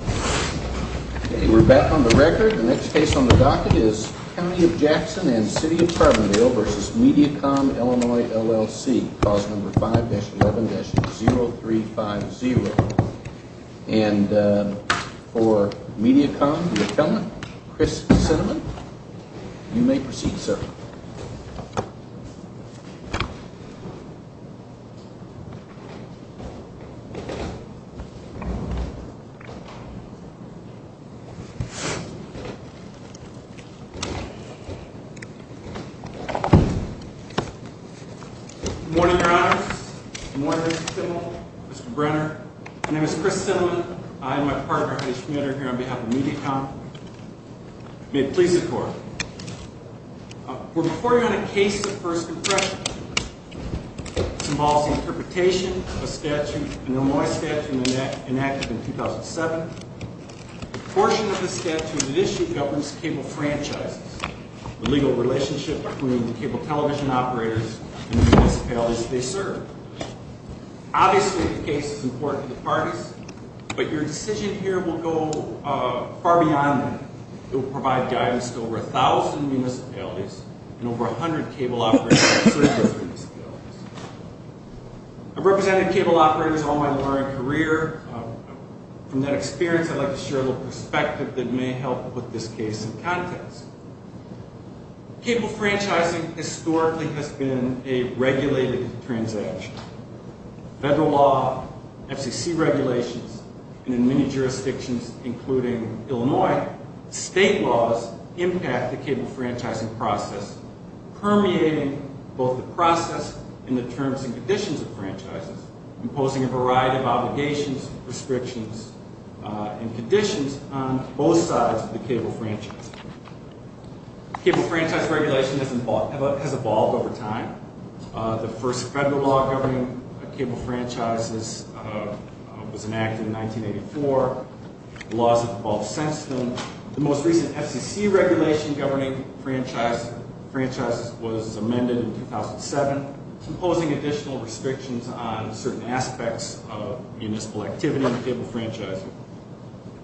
We're back on the record. The next case on the docket is County of Jackson and City of Carbondale v. Mediacom Illinois LLC Clause number 5-11-0350 And for Mediacom, the attendant, Chris Cinnamon, you may proceed sir. Good morning, your honors. Good morning, Mr. Simmel, Mr. Brenner. My name is Chris Cinnamon. I and my partner, H. Schmitter, here on behalf of Mediacom, may it please the court. We're reporting on a case of first impression. This involves the interpretation of a statute, an Illinois statute, enacted in 2007. A portion of the statute initially governs cable franchises, the legal relationship between the cable television operators and the municipalities they serve. Obviously, the case is important to the parties, but your decision here will go far beyond that. It will provide guidance to over 1,000 municipalities and over 100 cable operators that serve those municipalities. I've represented cable operators all my lawyering career. From that experience, I'd like to share a little perspective that may help put this case in context. Cable franchising historically has been a regulated transaction. Federal law, FCC regulations, and in many jurisdictions including Illinois, state laws impact the cable franchising process, permeating both the process and the terms and conditions of franchises, imposing a variety of obligations, restrictions, and conditions on both sides of the cable franchise. Cable franchise regulation has evolved over time. The first federal law governing cable franchises was enacted in 1984. Laws have evolved since then. The most recent FCC regulation governing franchises was amended in 2007, imposing additional restrictions on certain aspects of municipal activity on the cable franchising.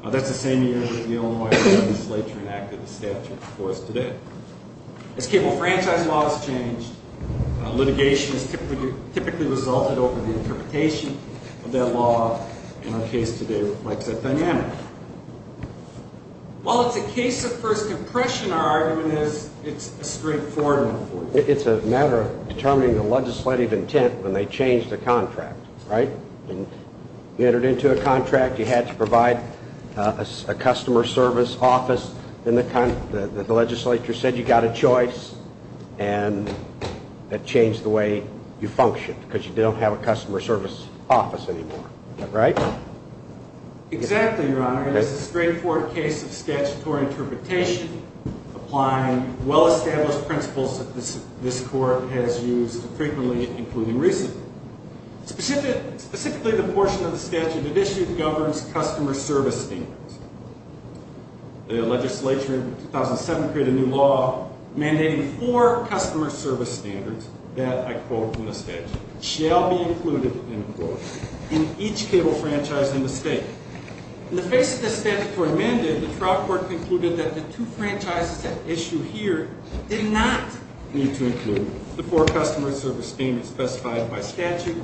That's the same year that the Illinois legislature enacted the statute before us today. As cable franchise law has changed, litigation has typically resulted over the interpretation of that law, and our case today, like I said, dynamic. While it's a case of first impression, our argument is it's a straightforward one. It's a matter of determining the legislative intent when they change the contract, right? You entered into a contract, you had to provide a customer service office, and the legislature said you got a choice, and that changed the way you function, because you don't have a customer service office anymore, right? Exactly, Your Honor. It's a straightforward case of statutory interpretation, applying well-established principles that this court has used frequently, including recently. Specifically, the portion of the statute that issued governs customer service standards. The legislature in 2007 created a new law mandating four customer service standards that, I quote from the statute, shall be included, end quote, in each cable franchise in the state. In the face of this statutory mandate, the trial court concluded that the two franchises that issue here did not need to include the four customer service standards specified by statute.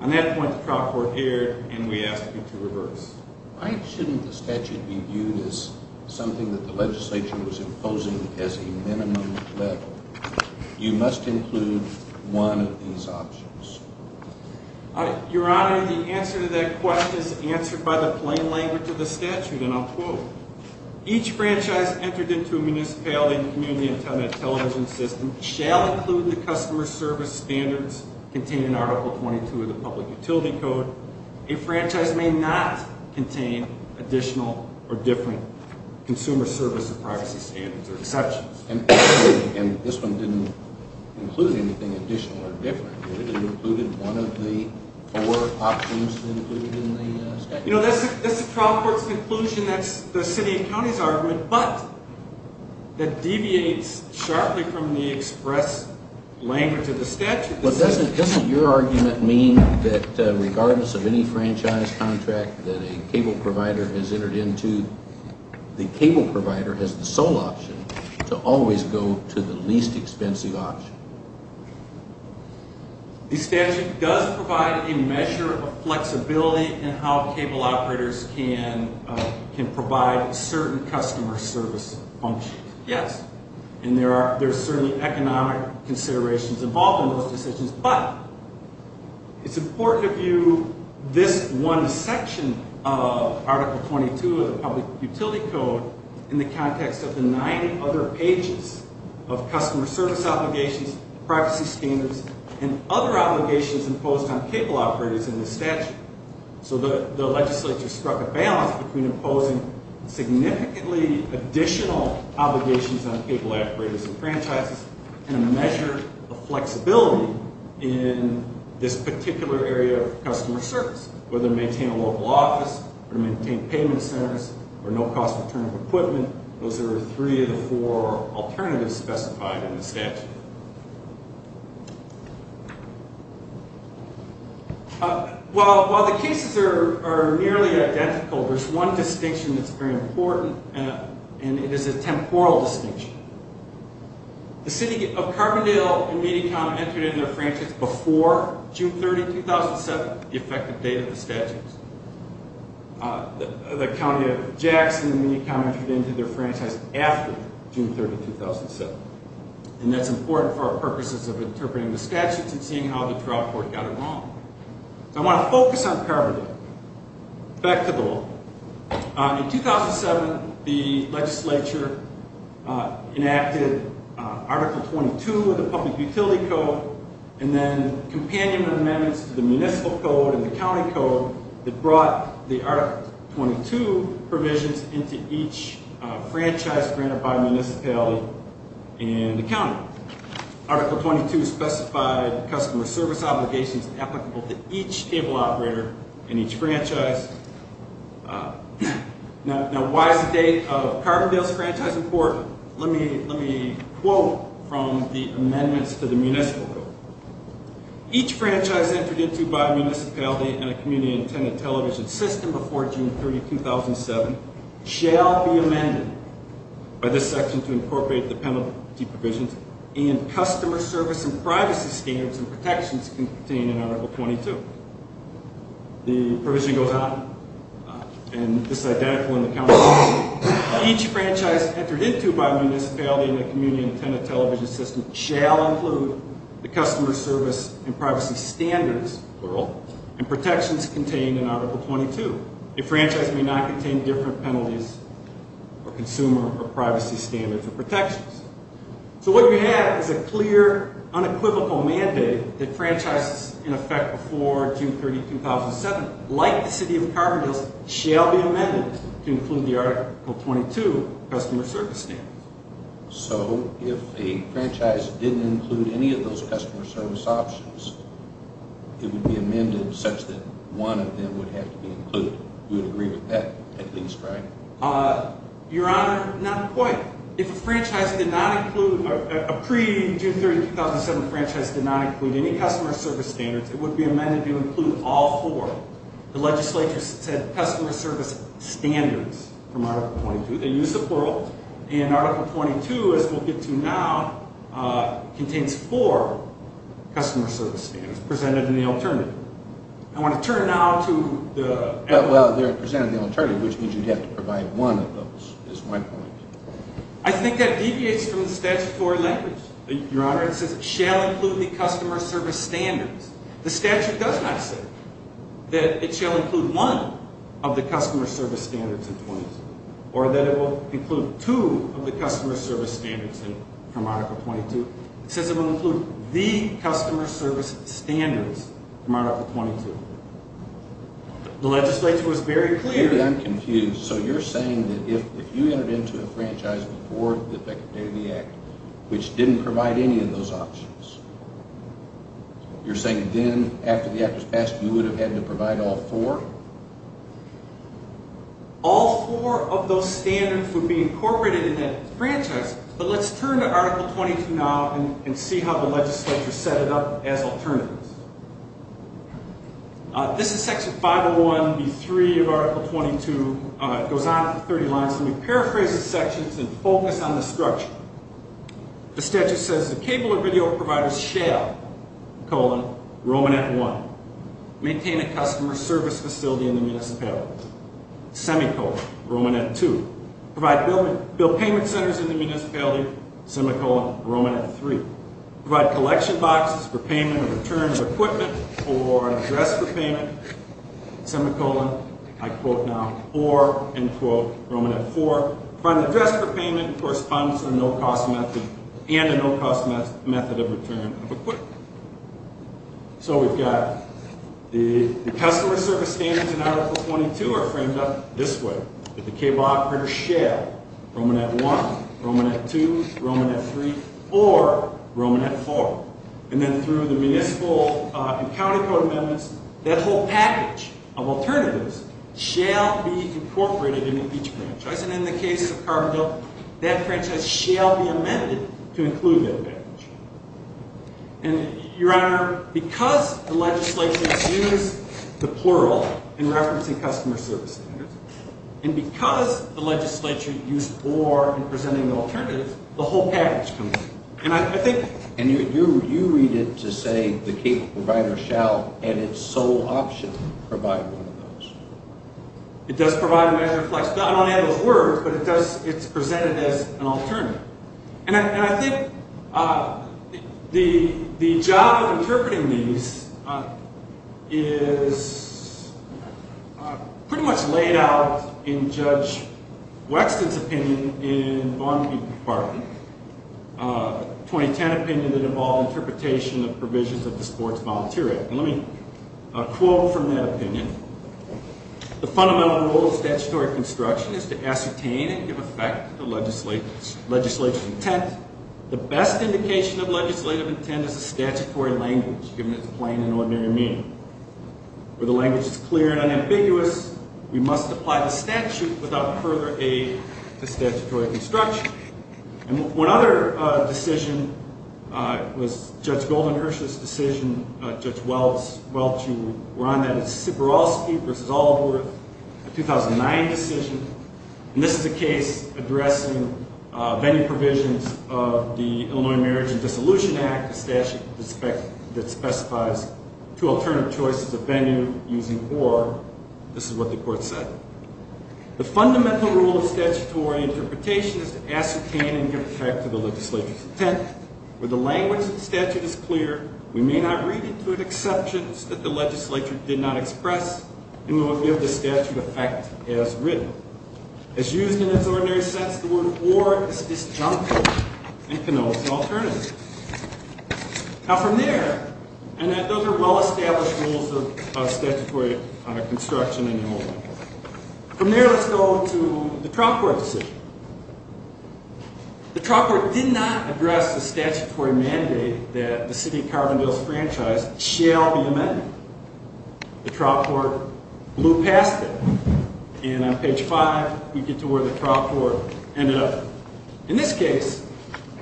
On that point, the trial court erred, and we ask you to reverse. Why shouldn't the statute be viewed as something that the legislature was imposing as a minimum level? You must include one of these options. Your Honor, the answer to that question is answered by the plain language of the statute, and I'll quote. Each franchise entered into a municipality and community antenna television system shall include the customer service standards contained in Article 22 of the Public Utility Code. A franchise may not contain additional or different consumer service or privacy standards or exceptions. And this one didn't include anything additional or different, did it? It included one of the four options that are included in the statute? You know, that's the trial court's conclusion, that's the city and county's argument, but that deviates sharply from the express language of the statute. But doesn't your argument mean that regardless of any franchise contract that a cable provider has entered into, the cable provider has the sole option to always go to the least expensive option? The statute does provide a measure of flexibility in how cable operators can provide certain customer service functions. Yes, and there are certainly economic considerations involved in those decisions, but it's important to view this one section of Article 22 of the Public Utility Code in the context of the nine other pages of customer service obligations, privacy standards, and other obligations imposed on cable operators in the statute. So the legislature struck a balance between imposing significantly additional obligations on cable operators and franchises and a measure of flexibility in this particular area of customer service, whether maintain a local office or maintain payment centers or no cost return of equipment. Those are three of the four alternatives specified in the statute. While the cases are nearly identical, there's one distinction that's very important, and it is a temporal distinction. The city of Carbondale and Meany County entered into their franchise before June 30, 2007, the effective date of the statute. The county of Jackson and Meany County entered into their franchise after June 30, 2007, and that's important for our purposes of interpreting the statutes and seeing how the trial court got it wrong. So I want to focus on Carbondale. Back to the law. In 2007, the legislature enacted Article 22 of the Public Utility Code and then companion amendments to the municipal code and the county code that brought the Article 22 provisions into each franchise granted by municipality and the county. Article 22 specified customer service obligations applicable to each cable operator in each franchise. Now, why is the date of Carbondale's franchise important? Let me quote from the amendments to the municipal code. Each franchise entered into by municipality and a community-intended television system before June 30, 2007 shall be amended by this section to incorporate the penalty provisions and customer service and privacy standards and protections contained in Article 22. The provision goes on. And this is identical in the county code. Each franchise entered into by municipality and a community-intended television system shall include the customer service and privacy standards, plural, and protections contained in Article 22. A franchise may not contain different penalties for consumer or privacy standards or protections. So what you have is a clear, unequivocal mandate that franchises in effect before June 30, 2007, like the City of Carbondale's, shall be amended to include the Article 22 customer service standards. So if a franchise didn't include any of those customer service options, it would be amended such that one of them would have to be included. You would agree with that, at least, right? Your Honor, not quite. If a franchise did not include – a pre-June 30, 2007 franchise did not include any customer service standards, it would be amended to include all four. The legislature said customer service standards from Article 22. They used the plural. And Article 22, as we'll get to now, contains four customer service standards presented in the alternative. I want to turn now to the – Well, they're presented in the alternative, which means you'd have to provide one of those, is my point. I think that deviates from the statutory language, Your Honor. It says it shall include the customer service standards. The statute does not say that it shall include one of the customer service standards in 22, or that it will include two of the customer service standards from Article 22. It says it will include the customer service standards from Article 22. The legislature was very clear. Maybe I'm confused. So you're saying that if you entered into a franchise before the Decadentity Act, which didn't provide any of those options, you're saying then, after the Act was passed, you would have had to provide all four? All four of those standards would be incorporated in that franchise. But let's turn to Article 22 now and see how the legislature set it up as alternatives. This is Section 501B3 of Article 22. It goes on for 30 lines. Let me paraphrase the sections and focus on the structure. The statute says the cable or video providers shall, colon, Romanet 1, maintain a customer service facility in the municipality, semicolon, Romanet 2, provide bill payment centers in the municipality, semicolon, Romanet 3, provide collection boxes for payment of return of equipment or address for payment, semicolon, I quote now, or, end quote, Romanet 4, provide an address for payment corresponding to a no-cost method and a no-cost method of return of equipment. So we've got the customer service standards in Article 22 are framed up this way. That the cable operator shall, Romanet 1, Romanet 2, Romanet 3, or Romanet 4, and then through the municipal and county code amendments, that whole package of alternatives shall be incorporated into each franchise. And in the case of Carbondale, that franchise shall be amended to include that package. And Your Honor, because the legislature has used the plural in referencing customer service standards, and because the legislature used or in presenting the alternative, the whole package comes in. And I think- And you read it to say the cable provider shall, at its sole option, provide one of those. It does provide a measure of flexibility. I don't have those words, but it does, it's presented as an alternative. And I think the job of interpreting these is pretty much laid out in Judge Wexton's opinion in Barnaby Park, 2010 opinion that involved interpretation of provisions of the Sports Volunteer Act. And let me quote from that opinion. The fundamental role of statutory construction is to ascertain and give effect to legislative intent. The best indication of legislative intent is a statutory language, given its plain and ordinary meaning. Where the language is clear and unambiguous, we must apply the statute without further aid to statutory construction. And one other decision was Judge Goldenhurst's decision, Judge Welch, you were on that. It's Siborowski v. Allworth, a 2009 decision. And this is a case addressing venue provisions of the Illinois Marriage and Dissolution Act, a statute that specifies two alternative choices of venue using or. This is what the court said. The fundamental role of statutory interpretation is to ascertain and give effect to the legislature's intent. Where the language of the statute is clear, we may not read into it exceptions that the legislature did not express, and we will give the statute effect as written. As used in its ordinary sense, the word or is disjunctive and connotes an alternative. Now from there, and those are well-established rules of statutory construction in Illinois. From there, let's go to the trial court decision. The trial court did not address the statutory mandate that the city of Carbondale's franchise shall be amended. The trial court blew past it, and on page 5, we get to where the trial court ended up. In this case,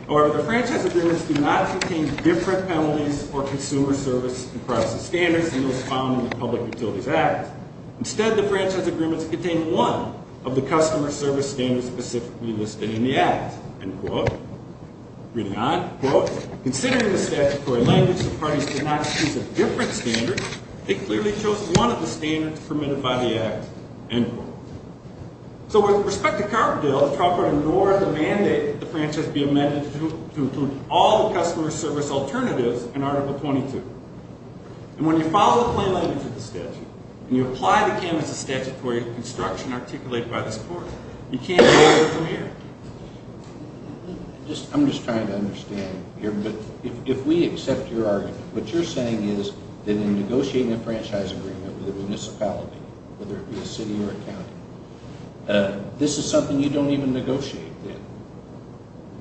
however, the franchise agreements do not contain different penalties for consumer service and privacy standards than those found in the Public Utilities Act. Instead, the franchise agreements contain one of the customer service standards specifically listed in the Act, end quote. Reading on, quote, considering the statutory language, the parties did not choose a different standard. They clearly chose one of the standards permitted by the Act, end quote. So with respect to Carbondale, the trial court ignored the mandate that the franchise be amended to include all the customer service alternatives in Article 22. And when you follow the plain language of the statute, and you apply the canvass of statutory construction articulated by this court, you can't apply it from here. I'm just trying to understand here, but if we accept your argument, what you're saying is that in negotiating a franchise agreement with a municipality, whether it be a city or a county, this is something you don't even negotiate then,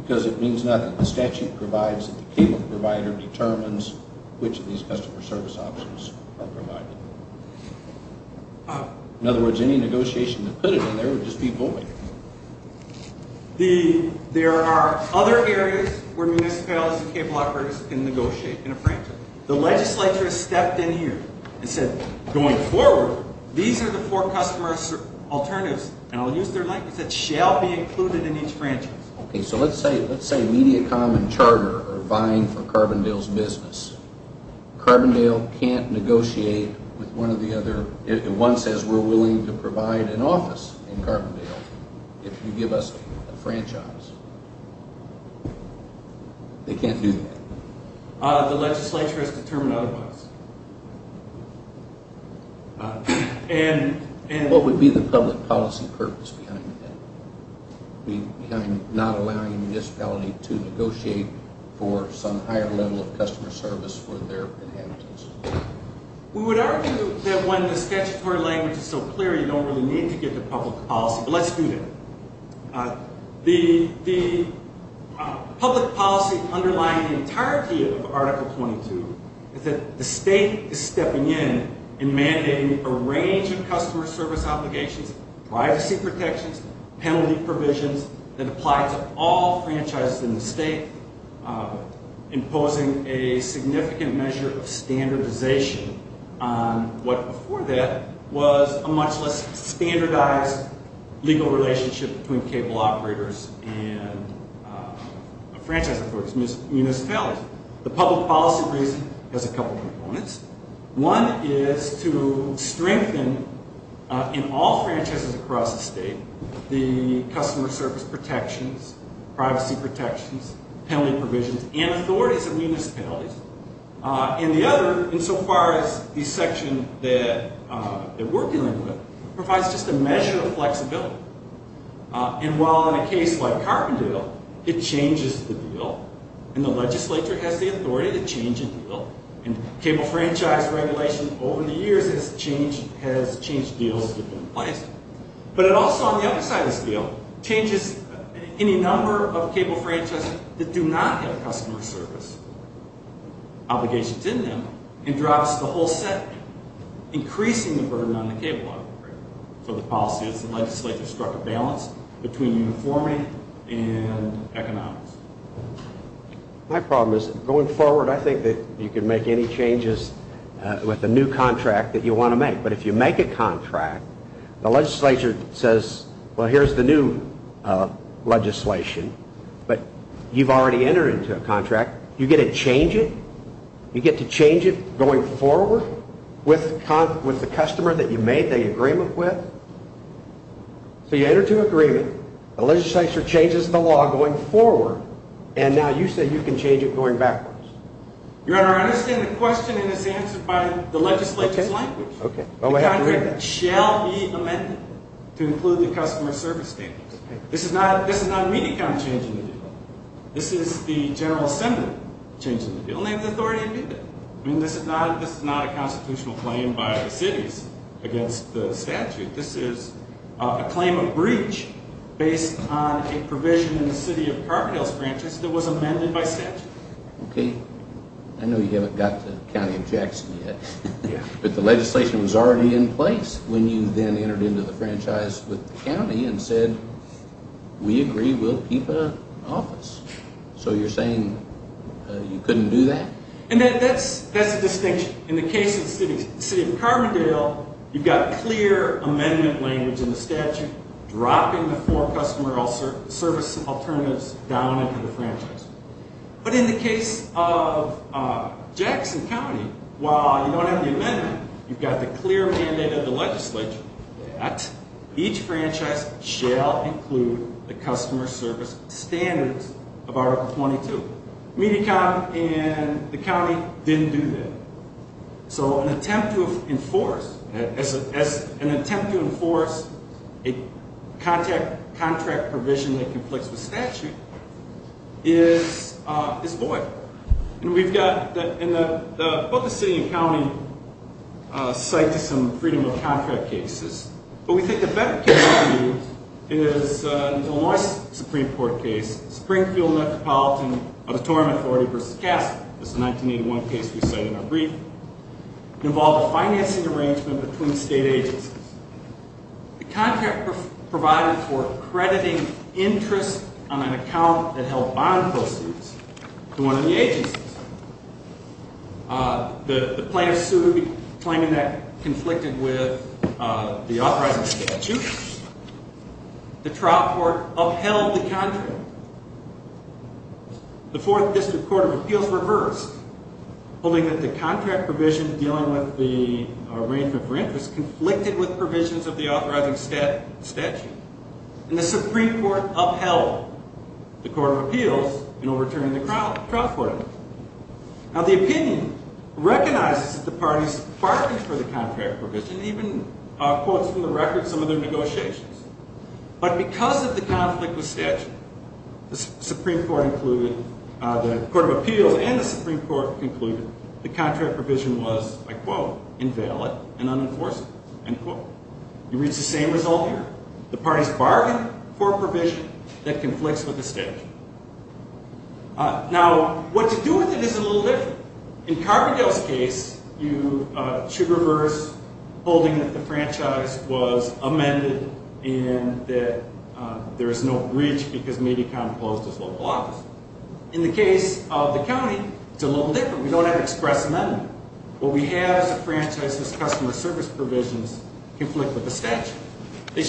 because it means nothing. The statute provides that the payment provider determines which of these customer service options are provided. In other words, any negotiation to put it in there would just be void. There are other areas where municipalities and cable operators can negotiate in a franchise. The legislature stepped in here and said, going forward, these are the four customer service alternatives, and I'll use their language, that shall be included in each franchise. Okay, so let's say Mediacom and Charter are vying for Carbondale's business. Carbondale can't negotiate with one or the other. One says we're willing to provide an office in Carbondale if you give us a franchise. They can't do that. The legislature has determined otherwise. What would be the public policy purpose behind that, behind not allowing a municipality to negotiate for some higher level of customer service for their inhabitants? We would argue that when the statutory language is so clear, you don't really need to get the public policy, but let's do that. The public policy underlying the entirety of Article 22 is that the state is stepping in and mandating a range of customer service obligations, privacy protections, penalty provisions that apply to all franchises in the state, imposing a significant measure of standardization on what before that was a much less standardized legal relationship between cable operators and franchise employees, municipalities. The public policy reason has a couple of components. One is to strengthen, in all franchises across the state, the customer service protections, privacy protections, penalty provisions, and authorities of municipalities. And the other, insofar as the section that we're dealing with, provides just a measure of flexibility. And while in a case like Carbondale, it changes the deal, and the legislature has the authority to change a deal, and cable franchise regulation over the years has changed deals that have been in place, but it also, on the other side of this deal, changes any number of cable franchises that do not have customer service obligations in them and drops the whole set, increasing the burden on the cable operator. So the policy is the legislature struck a balance between uniformity and economics. My problem is, going forward, I think that you can make any changes with a new contract that you want to make, but if you make a contract, the legislature says, well, here's the new legislation, but you've already entered into a contract, you get to change it? You get to change it going forward with the customer that you made the agreement with? So you enter into an agreement, the legislature changes the law going forward, and now you say you can change it going backwards? Your Honor, I understand the question, and it's answered by the legislature's language. Okay. The contract shall be amended to include the customer service standards. This is not an immediate kind of change in the deal. This is the General Assembly changing the deal, and they have the authority to do that. I mean, this is not a constitutional claim by the cities against the statute. This is a claim of breach based on a provision in the City of Carbondale's franchise that was amended by statute. Okay. I know you haven't got to the County of Jackson yet. Yeah. But the legislation was already in place when you then entered into the franchise with the county and said, we agree, we'll keep the office. So you're saying you couldn't do that? And that's a distinction. In the case of the City of Carbondale, you've got clear amendment language in the statute dropping the four customer service alternatives down into the franchise. But in the case of Jackson County, while you don't have the amendment, you've got the clear mandate of the legislature that each franchise shall include the customer service standards of Article 22. Mediacom and the county didn't do that. So an attempt to enforce a contract provision that conflicts with statute is void. And we've got both the city and county cite to some freedom of contract cases. But we think a better case to use is the Deloitte Supreme Court case, Springfield Metropolitan Auditorium Authority v. Castle. It's a 1981 case we cite in our brief. It involved a financing arrangement between state agencies. The contract provided for crediting interest on an account that held bond proceeds to one of the agencies. The plaintiff sued, claiming that conflicted with the authorizing statute. The trial court upheld the contract. The Fourth District Court of Appeals reversed, holding that the contract provision dealing with the arrangement for interest conflicted with provisions of the authorizing statute. And the Supreme Court upheld the Court of Appeals in overturning the trial court. Now, the opinion recognizes that the parties bargained for the contract provision, even quotes from the record some of their negotiations. But because of the conflict with statute, the Supreme Court included, the Court of Appeals and the Supreme Court concluded the contract provision was, I quote, invalid and unenforceable, end quote. You read the same result here. The parties bargained for provision that conflicts with the statute. Now, what to do with it is a little different. In Carbondale's case, you should reverse holding that the franchise was amended and that there is no breach because it may be composed as local office. In the case of the county, it's a little different. We don't have express amendment. What we have is a franchise whose customer service provisions conflict with the statute. They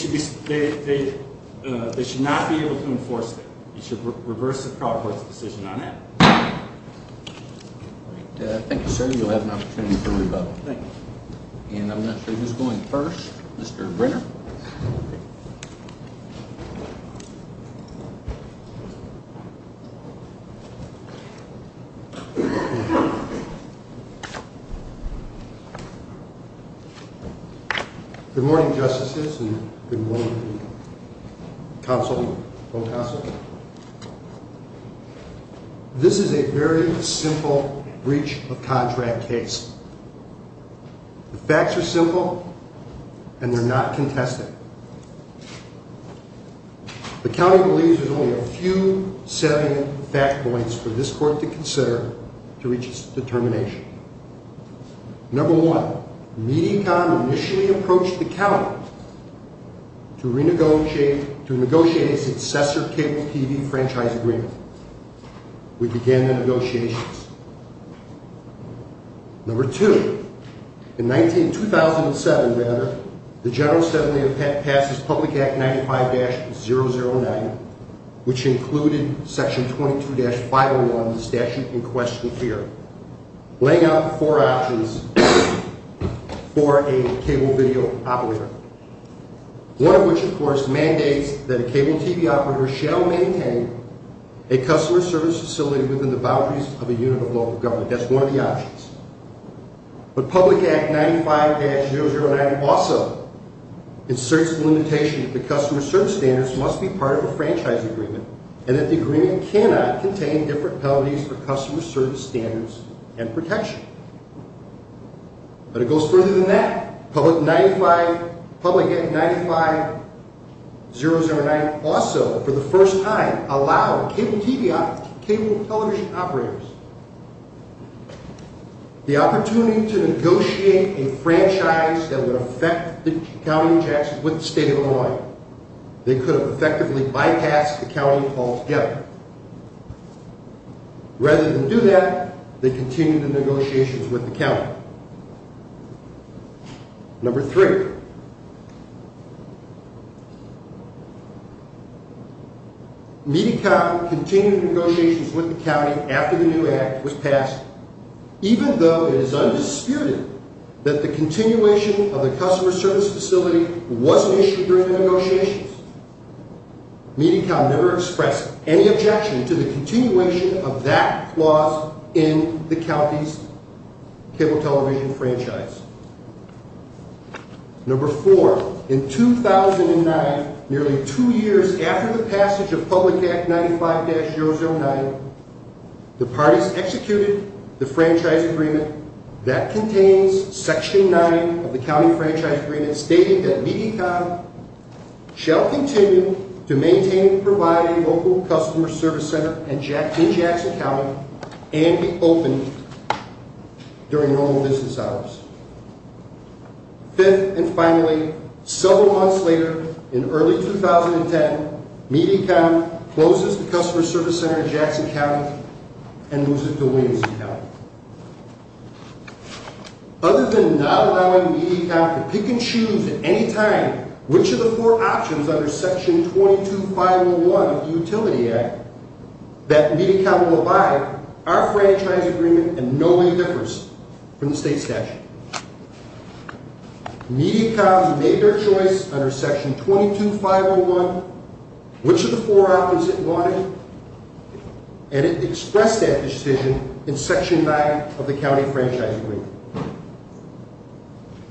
should not be able to enforce it. You should reverse the trial court's decision on that. Thank you, sir. You'll have an opportunity for rebuttal. Thank you. And I'm not sure who's going first. Mr. Brenner. Good morning, justices, and good morning, counsel, all counsel. This is a very simple breach of contract case. The facts are simple, and they're not contested. The county believes there's only a few salient fact points for this court to consider to reach its determination. Number one, Medecon initially approached the county to negotiate a successor cable TV franchise agreement. We began the negotiations. Number two, in 2007, the general assembly passed this public act 95-009, which included section 22-501 of the statute in question here, laying out four options for a cable video operator, one of which, of course, mandates that a cable TV operator shall maintain a customer service facility within the boundaries of a unit of local government. That's one of the options. But public act 95-009 also inserts the limitation that the customer service standards must be part of a franchise agreement and that the agreement cannot contain different penalties for customer service standards and protection. But it goes further than that. Public act 95-009 also, for the first time, allowed cable television operators the opportunity to negotiate a franchise that would affect the county of Jackson with the state of Illinois. They could have effectively bypassed the county call together. Rather than do that, they continued the negotiations with the county. Number three, Medi-Cal continued negotiations with the county after the new act was passed, even though it is undisputed that the continuation of the customer service facility wasn't issued during the negotiations. Medi-Cal never expressed any objection to the continuation of that clause in the county's cable television franchise. Number four, in 2009, nearly two years after the passage of public act 95-009, the parties executed the franchise agreement that contains section 9 of the county franchise agreement and stated that Medi-Cal shall continue to maintain and provide a local customer service center in Jackson County and be open during normal business hours. Fifth and finally, several months later, in early 2010, Medi-Cal closes the customer service center in Jackson County and moves it to Williamson County. Other than not allowing Medi-Cal to pick and choose at any time which of the four options under section 22-501 of the Utility Act that Medi-Cal will abide, our franchise agreement is in no way different from the state statute. Medi-Cal made their choice under section 22-501 which of the four options it wanted, and it expressed that decision in section 9 of the county franchise agreement.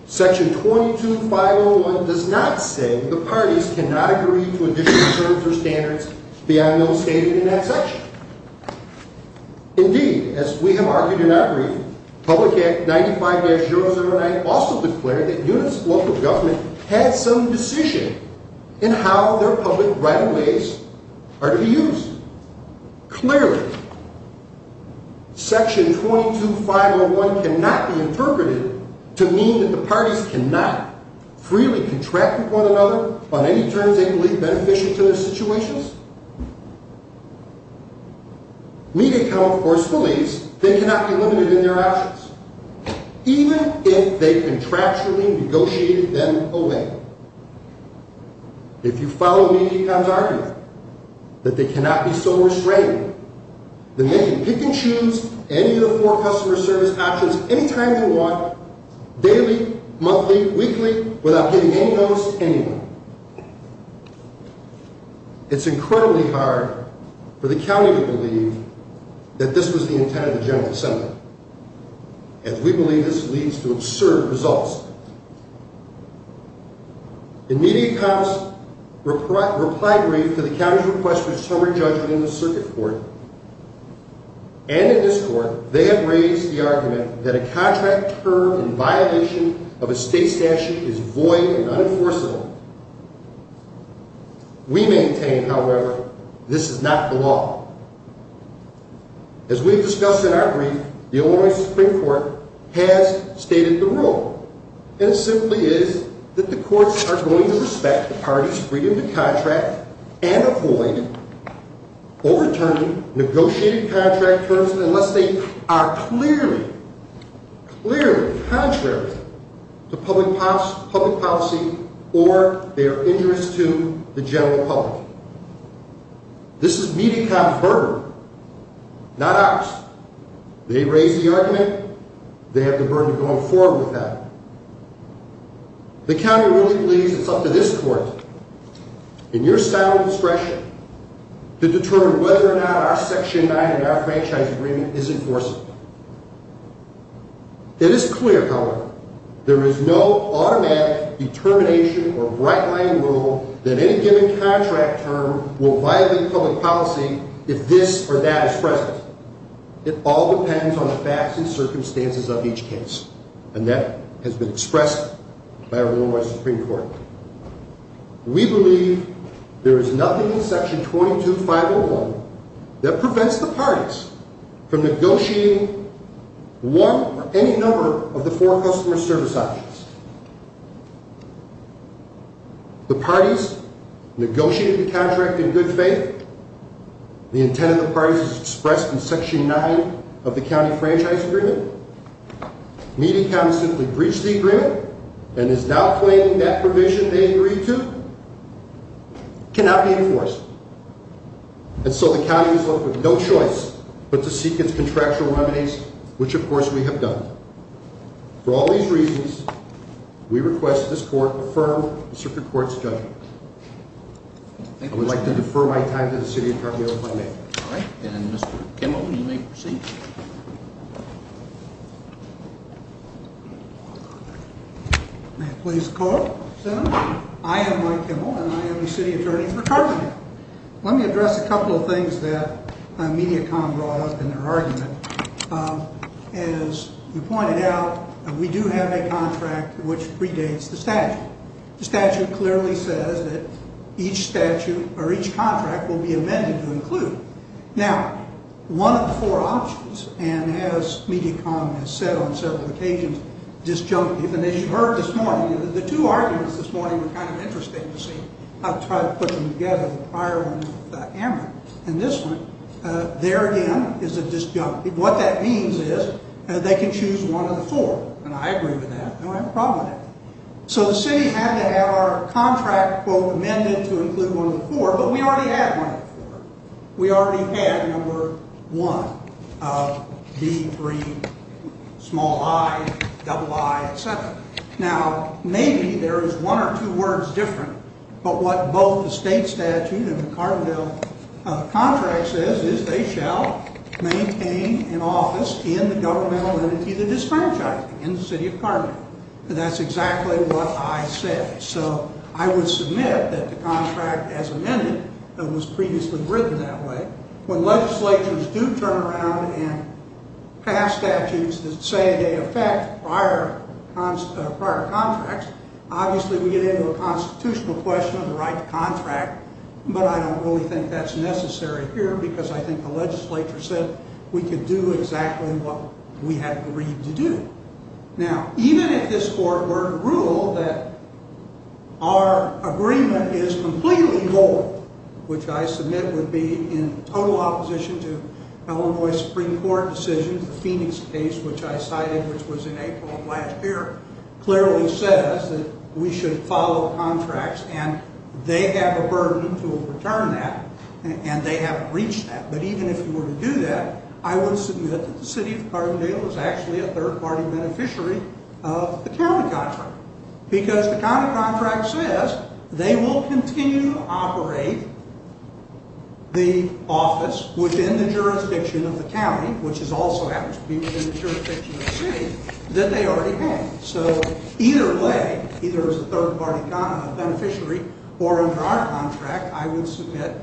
Section 22-501 does not say that the parties cannot agree to additional terms or standards beyond those stated in that section. Indeed, as we have argued in our brief, public act 95-009 also declared that units of local government had some decision in how their public right-of-ways are to be used. Clearly, section 22-501 cannot be interpreted to mean that the parties cannot freely contract with one another on any terms they believe beneficial to their situations. Medi-Cal, of course, believes they cannot be limited in their options, even if they contractually negotiated them away. If you follow Medi-Cal's argument that they cannot be so restrained that they can pick and choose any of the four customer service options any time they want, daily, monthly, weekly, without getting any notice anywhere. It's incredibly hard for the county to believe that this was the intent of the general assembly, as we believe this leads to absurd results. In Medi-Cal's reply brief to the county's request for a summary judgment in the circuit court, and in this court, they have raised the argument that a contract term in violation of a state statute is void and unenforceable. We maintain, however, this is not the law. As we have discussed in our brief, the Illinois Supreme Court has stated the rule, and it simply is that the courts are going to respect the parties' freedom to contract and avoid overturning negotiated contract terms unless they are clearly, clearly contrary to public policy or their interest to the general public. This is Medi-Cal's burden, not ours. They raised the argument, they have the burden of going forward with that. The county really believes it's up to this court, in your style of discretion, to determine whether or not our Section 9 and our franchise agreement is enforceable. It is clear, however, there is no automatic determination or bright-line rule that any given contract term will violate public policy if this or that is present. It all depends on the facts and circumstances of each case, and that has been expressed by our Illinois Supreme Court. We believe there is nothing in Section 22-501 that prevents the parties from negotiating one or any number of the four customer service options. The parties negotiated the contract in good faith. The intent of the parties is expressed in Section 9 of the county franchise agreement. Medi-Cal has simply breached the agreement and is now claiming that provision they agreed to cannot be enforced. And so the county is left with no choice but to seek its contractual remedies, which, of course, we have done. For all these reasons, we request that this court affirm the Supreme Court's judgment. I would like to defer my time to the City Attorney, if I may. All right. And Mr. Kimmel, you may proceed. May it please the Court. I am Mike Kimmel, and I am the City Attorney for Carpenter. Let me address a couple of things that MediaCom brought up in their argument. As you pointed out, we do have a contract which predates the statute. The statute clearly says that each statute or each contract will be amended to include. Now, one of the four options, and as MediaCom has said on several occasions, disjunctive. And as you heard this morning, the two arguments this morning were kind of interesting to see. I'll try to put them together, the prior one with Amber and this one. There again is a disjunctive. What that means is they can choose one of the four, and I agree with that, and I have a problem with that. So the city had to have our contract, quote, amended to include one of the four, but we already had one of the four. We already had number one, B3, small i, double i, et cetera. Now, maybe there is one or two words different, but what both the state statute and the Carpenter contract says is they shall maintain an office in the governmental entity that is disfranchising, in the city of Carpenter. That's exactly what I said. So I would submit that the contract as amended was previously written that way. When legislatures do turn around and pass statutes that say they affect prior contracts, obviously we get into a constitutional question of the right to contract, but I don't really think that's necessary here because I think the legislature said we could do exactly what we had agreed to do. Now, even if this court were to rule that our agreement is completely void, which I submit would be in total opposition to Illinois Supreme Court decision, the Phoenix case, which I cited, which was in April of last year, clearly says that we should follow contracts, and they have a burden to overturn that, and they haven't reached that, but even if you were to do that, I would submit that the city of Carbondale is actually a third-party beneficiary of the county contract because the county contract says they will continue to operate the office within the jurisdiction of the county, which also happens to be within the jurisdiction of the city, that they already have. So either way, either as a third-party beneficiary or under our contract, I would submit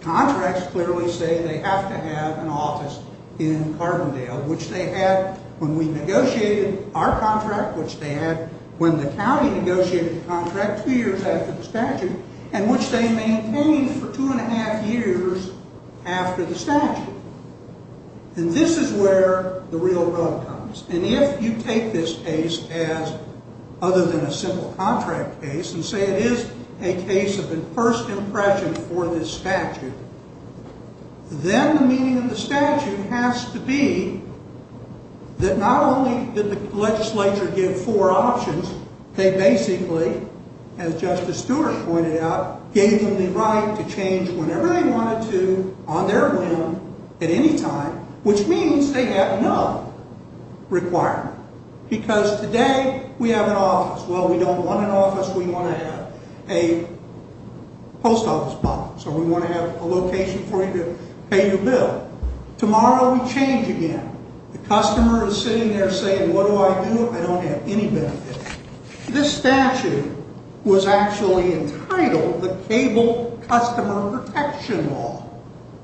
contracts clearly say they have to have an office in Carbondale, which they had when we negotiated our contract, which they had when the county negotiated the contract two years after the statute, and which they maintained for two and a half years after the statute. And this is where the real road comes, and if you take this case as other than a simple contract case and say it is a case of the first impression for this statute, then the meaning of the statute has to be that not only did the legislature give four options, they basically, as Justice Stewart pointed out, gave them the right to change whenever they wanted to on their whim at any time, which means they have no requirement because today we have an office. Well, we don't want an office. We want to have a post office, so we want to have a location for you to pay your bill. Tomorrow we change again. The customer is sitting there saying, what do I do? I don't have any benefit. This statute was actually entitled the Cable Customer Protection Law.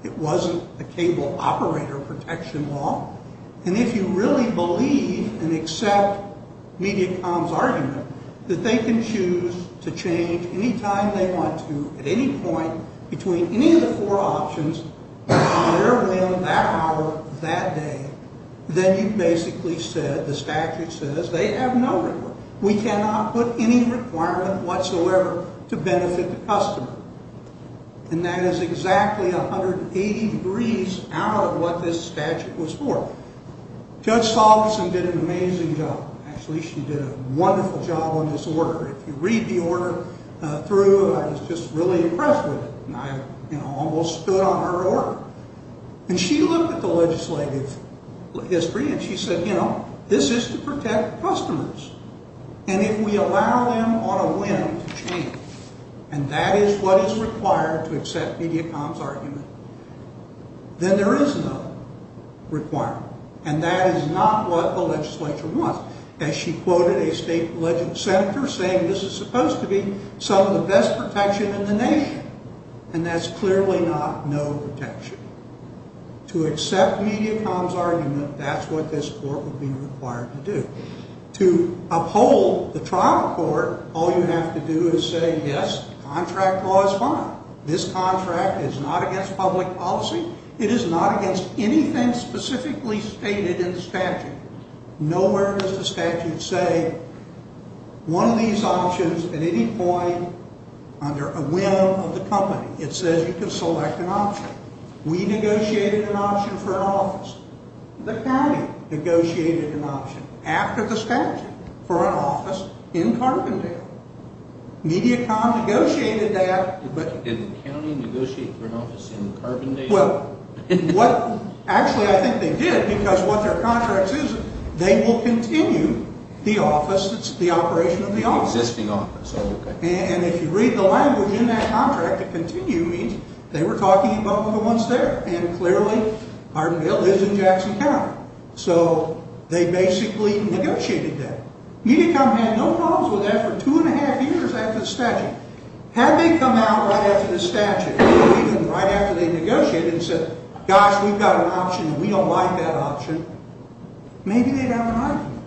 It wasn't the Cable Operator Protection Law, and if you really believe and accept Mediacom's argument that they can choose to change any time they want to at any point between any of the four options on their whim that hour, that day, then you've basically said the statute says they have no requirement. We cannot put any requirement whatsoever to benefit the customer, and that is exactly 180 degrees out of what this statute was for. Judge Salveson did an amazing job. Actually, she did a wonderful job on this order. If you read the order through, I was just really impressed with it, and I almost stood on her order. And she looked at the legislative history, and she said, you know, this is to protect customers, and if we allow them on a whim to change, and that is what is required to accept Mediacom's argument, then there is no requirement, and that is not what the legislature wants. As she quoted a state legislature senator saying, this is supposed to be some of the best protection in the nation, and that's clearly not no protection. To accept Mediacom's argument, that's what this court would be required to do. To uphold the trial court, all you have to do is say, yes, contract law is fine. This contract is not against public policy. It is not against anything specifically stated in the statute. Nowhere does the statute say one of these options at any point under a whim of the company. It says you can select an option. We negotiated an option for an office. The county negotiated an option after the statute for an office in Carbondale. Mediacom negotiated that. Did the county negotiate for an office in Carbondale? Well, what actually I think they did, because what their contract says, they will continue the office that's the operation of the office. The existing office, okay. And if you read the language in that contract, continue means they were talking about the ones there, and clearly Carbondale lives in Jackson County. So they basically negotiated that. Mediacom had no problems with that for two and a half years after the statute. Had they come out right after the statute or even right after they negotiated and said, gosh, we've got an option and we don't like that option, maybe they'd have an argument.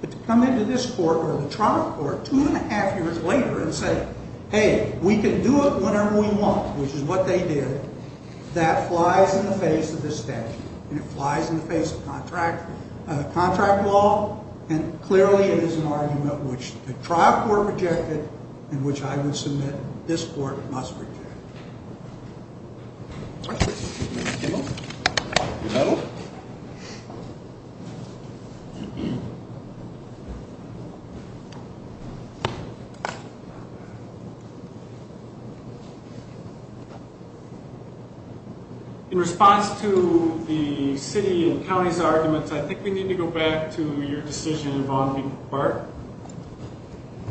But to come into this court or the trial court two and a half years later and say, hey, we can do it whenever we want, which is what they did, that flies in the face of the statute, and it flies in the face of contract law, and clearly it is an argument which the trial court rejected and which I would submit this court must reject. Thank you. In response to the city and county's arguments, I think we need to go back to your decision involving BART.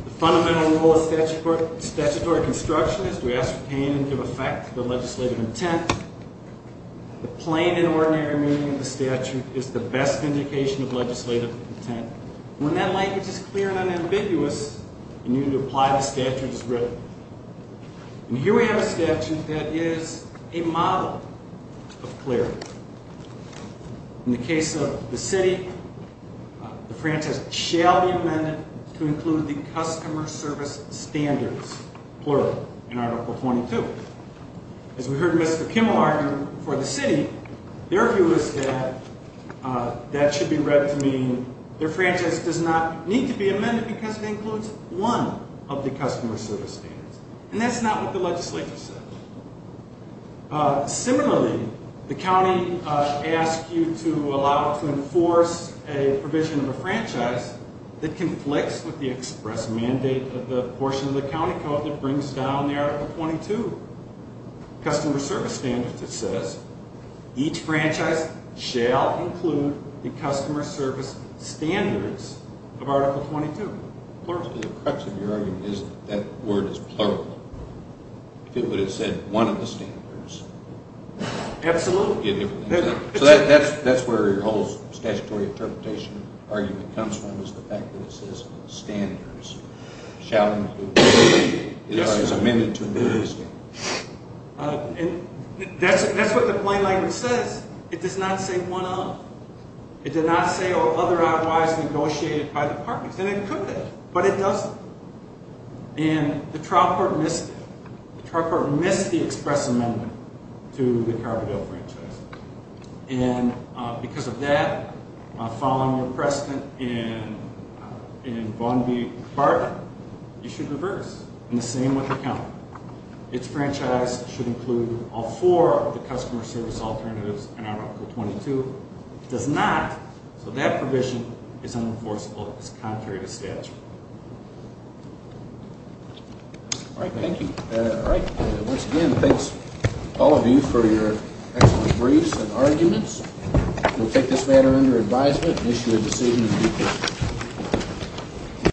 The fundamental rule of statutory construction is to ascertain and give effect to the legislative intent. The plain and ordinary meaning of the statute is the best indication of legislative intent. When that language is clear and unambiguous, you need to apply the statute as written. And here we have a statute that is a model of clarity. In the case of the city, the franchise shall be amended to include the customer service standards, plural, in Article 22. As we heard Mr. Kimmel argue for the city, their view is that that should be read to mean their franchise does not need to be amended because it includes one of the customer service standards. And that's not what the legislature said. Similarly, the county asked you to allow it to enforce a provision of a franchise that conflicts with the express mandate of the portion of the county code that brings down the Article 22 customer service standards. It says each franchise shall include the customer service standards of Article 22, plural. The crux of your argument is that word is plural. If it would have said one of the standards. Absolutely. So that's where your whole statutory interpretation argument comes from is the fact that it says standards shall include. It is amended to include the standards. That's what the plain language says. It does not say one of. It did not say otherwise negotiated by the parties. And it could have, but it doesn't. And the trial court missed it. The trial court missed the express amendment to the Carbondale franchise. And because of that, following your precedent in Vaughn v. Barton, you should reverse, and the same with the county. Its franchise should include all four of the customer service alternatives in Article 22. It does not. So that provision is unenforceable. It's contrary to statute. All right, thank you. Once again, thanks, all of you, for your excellent briefs and arguments. We'll take this matter under advisement and issue a decision in due course.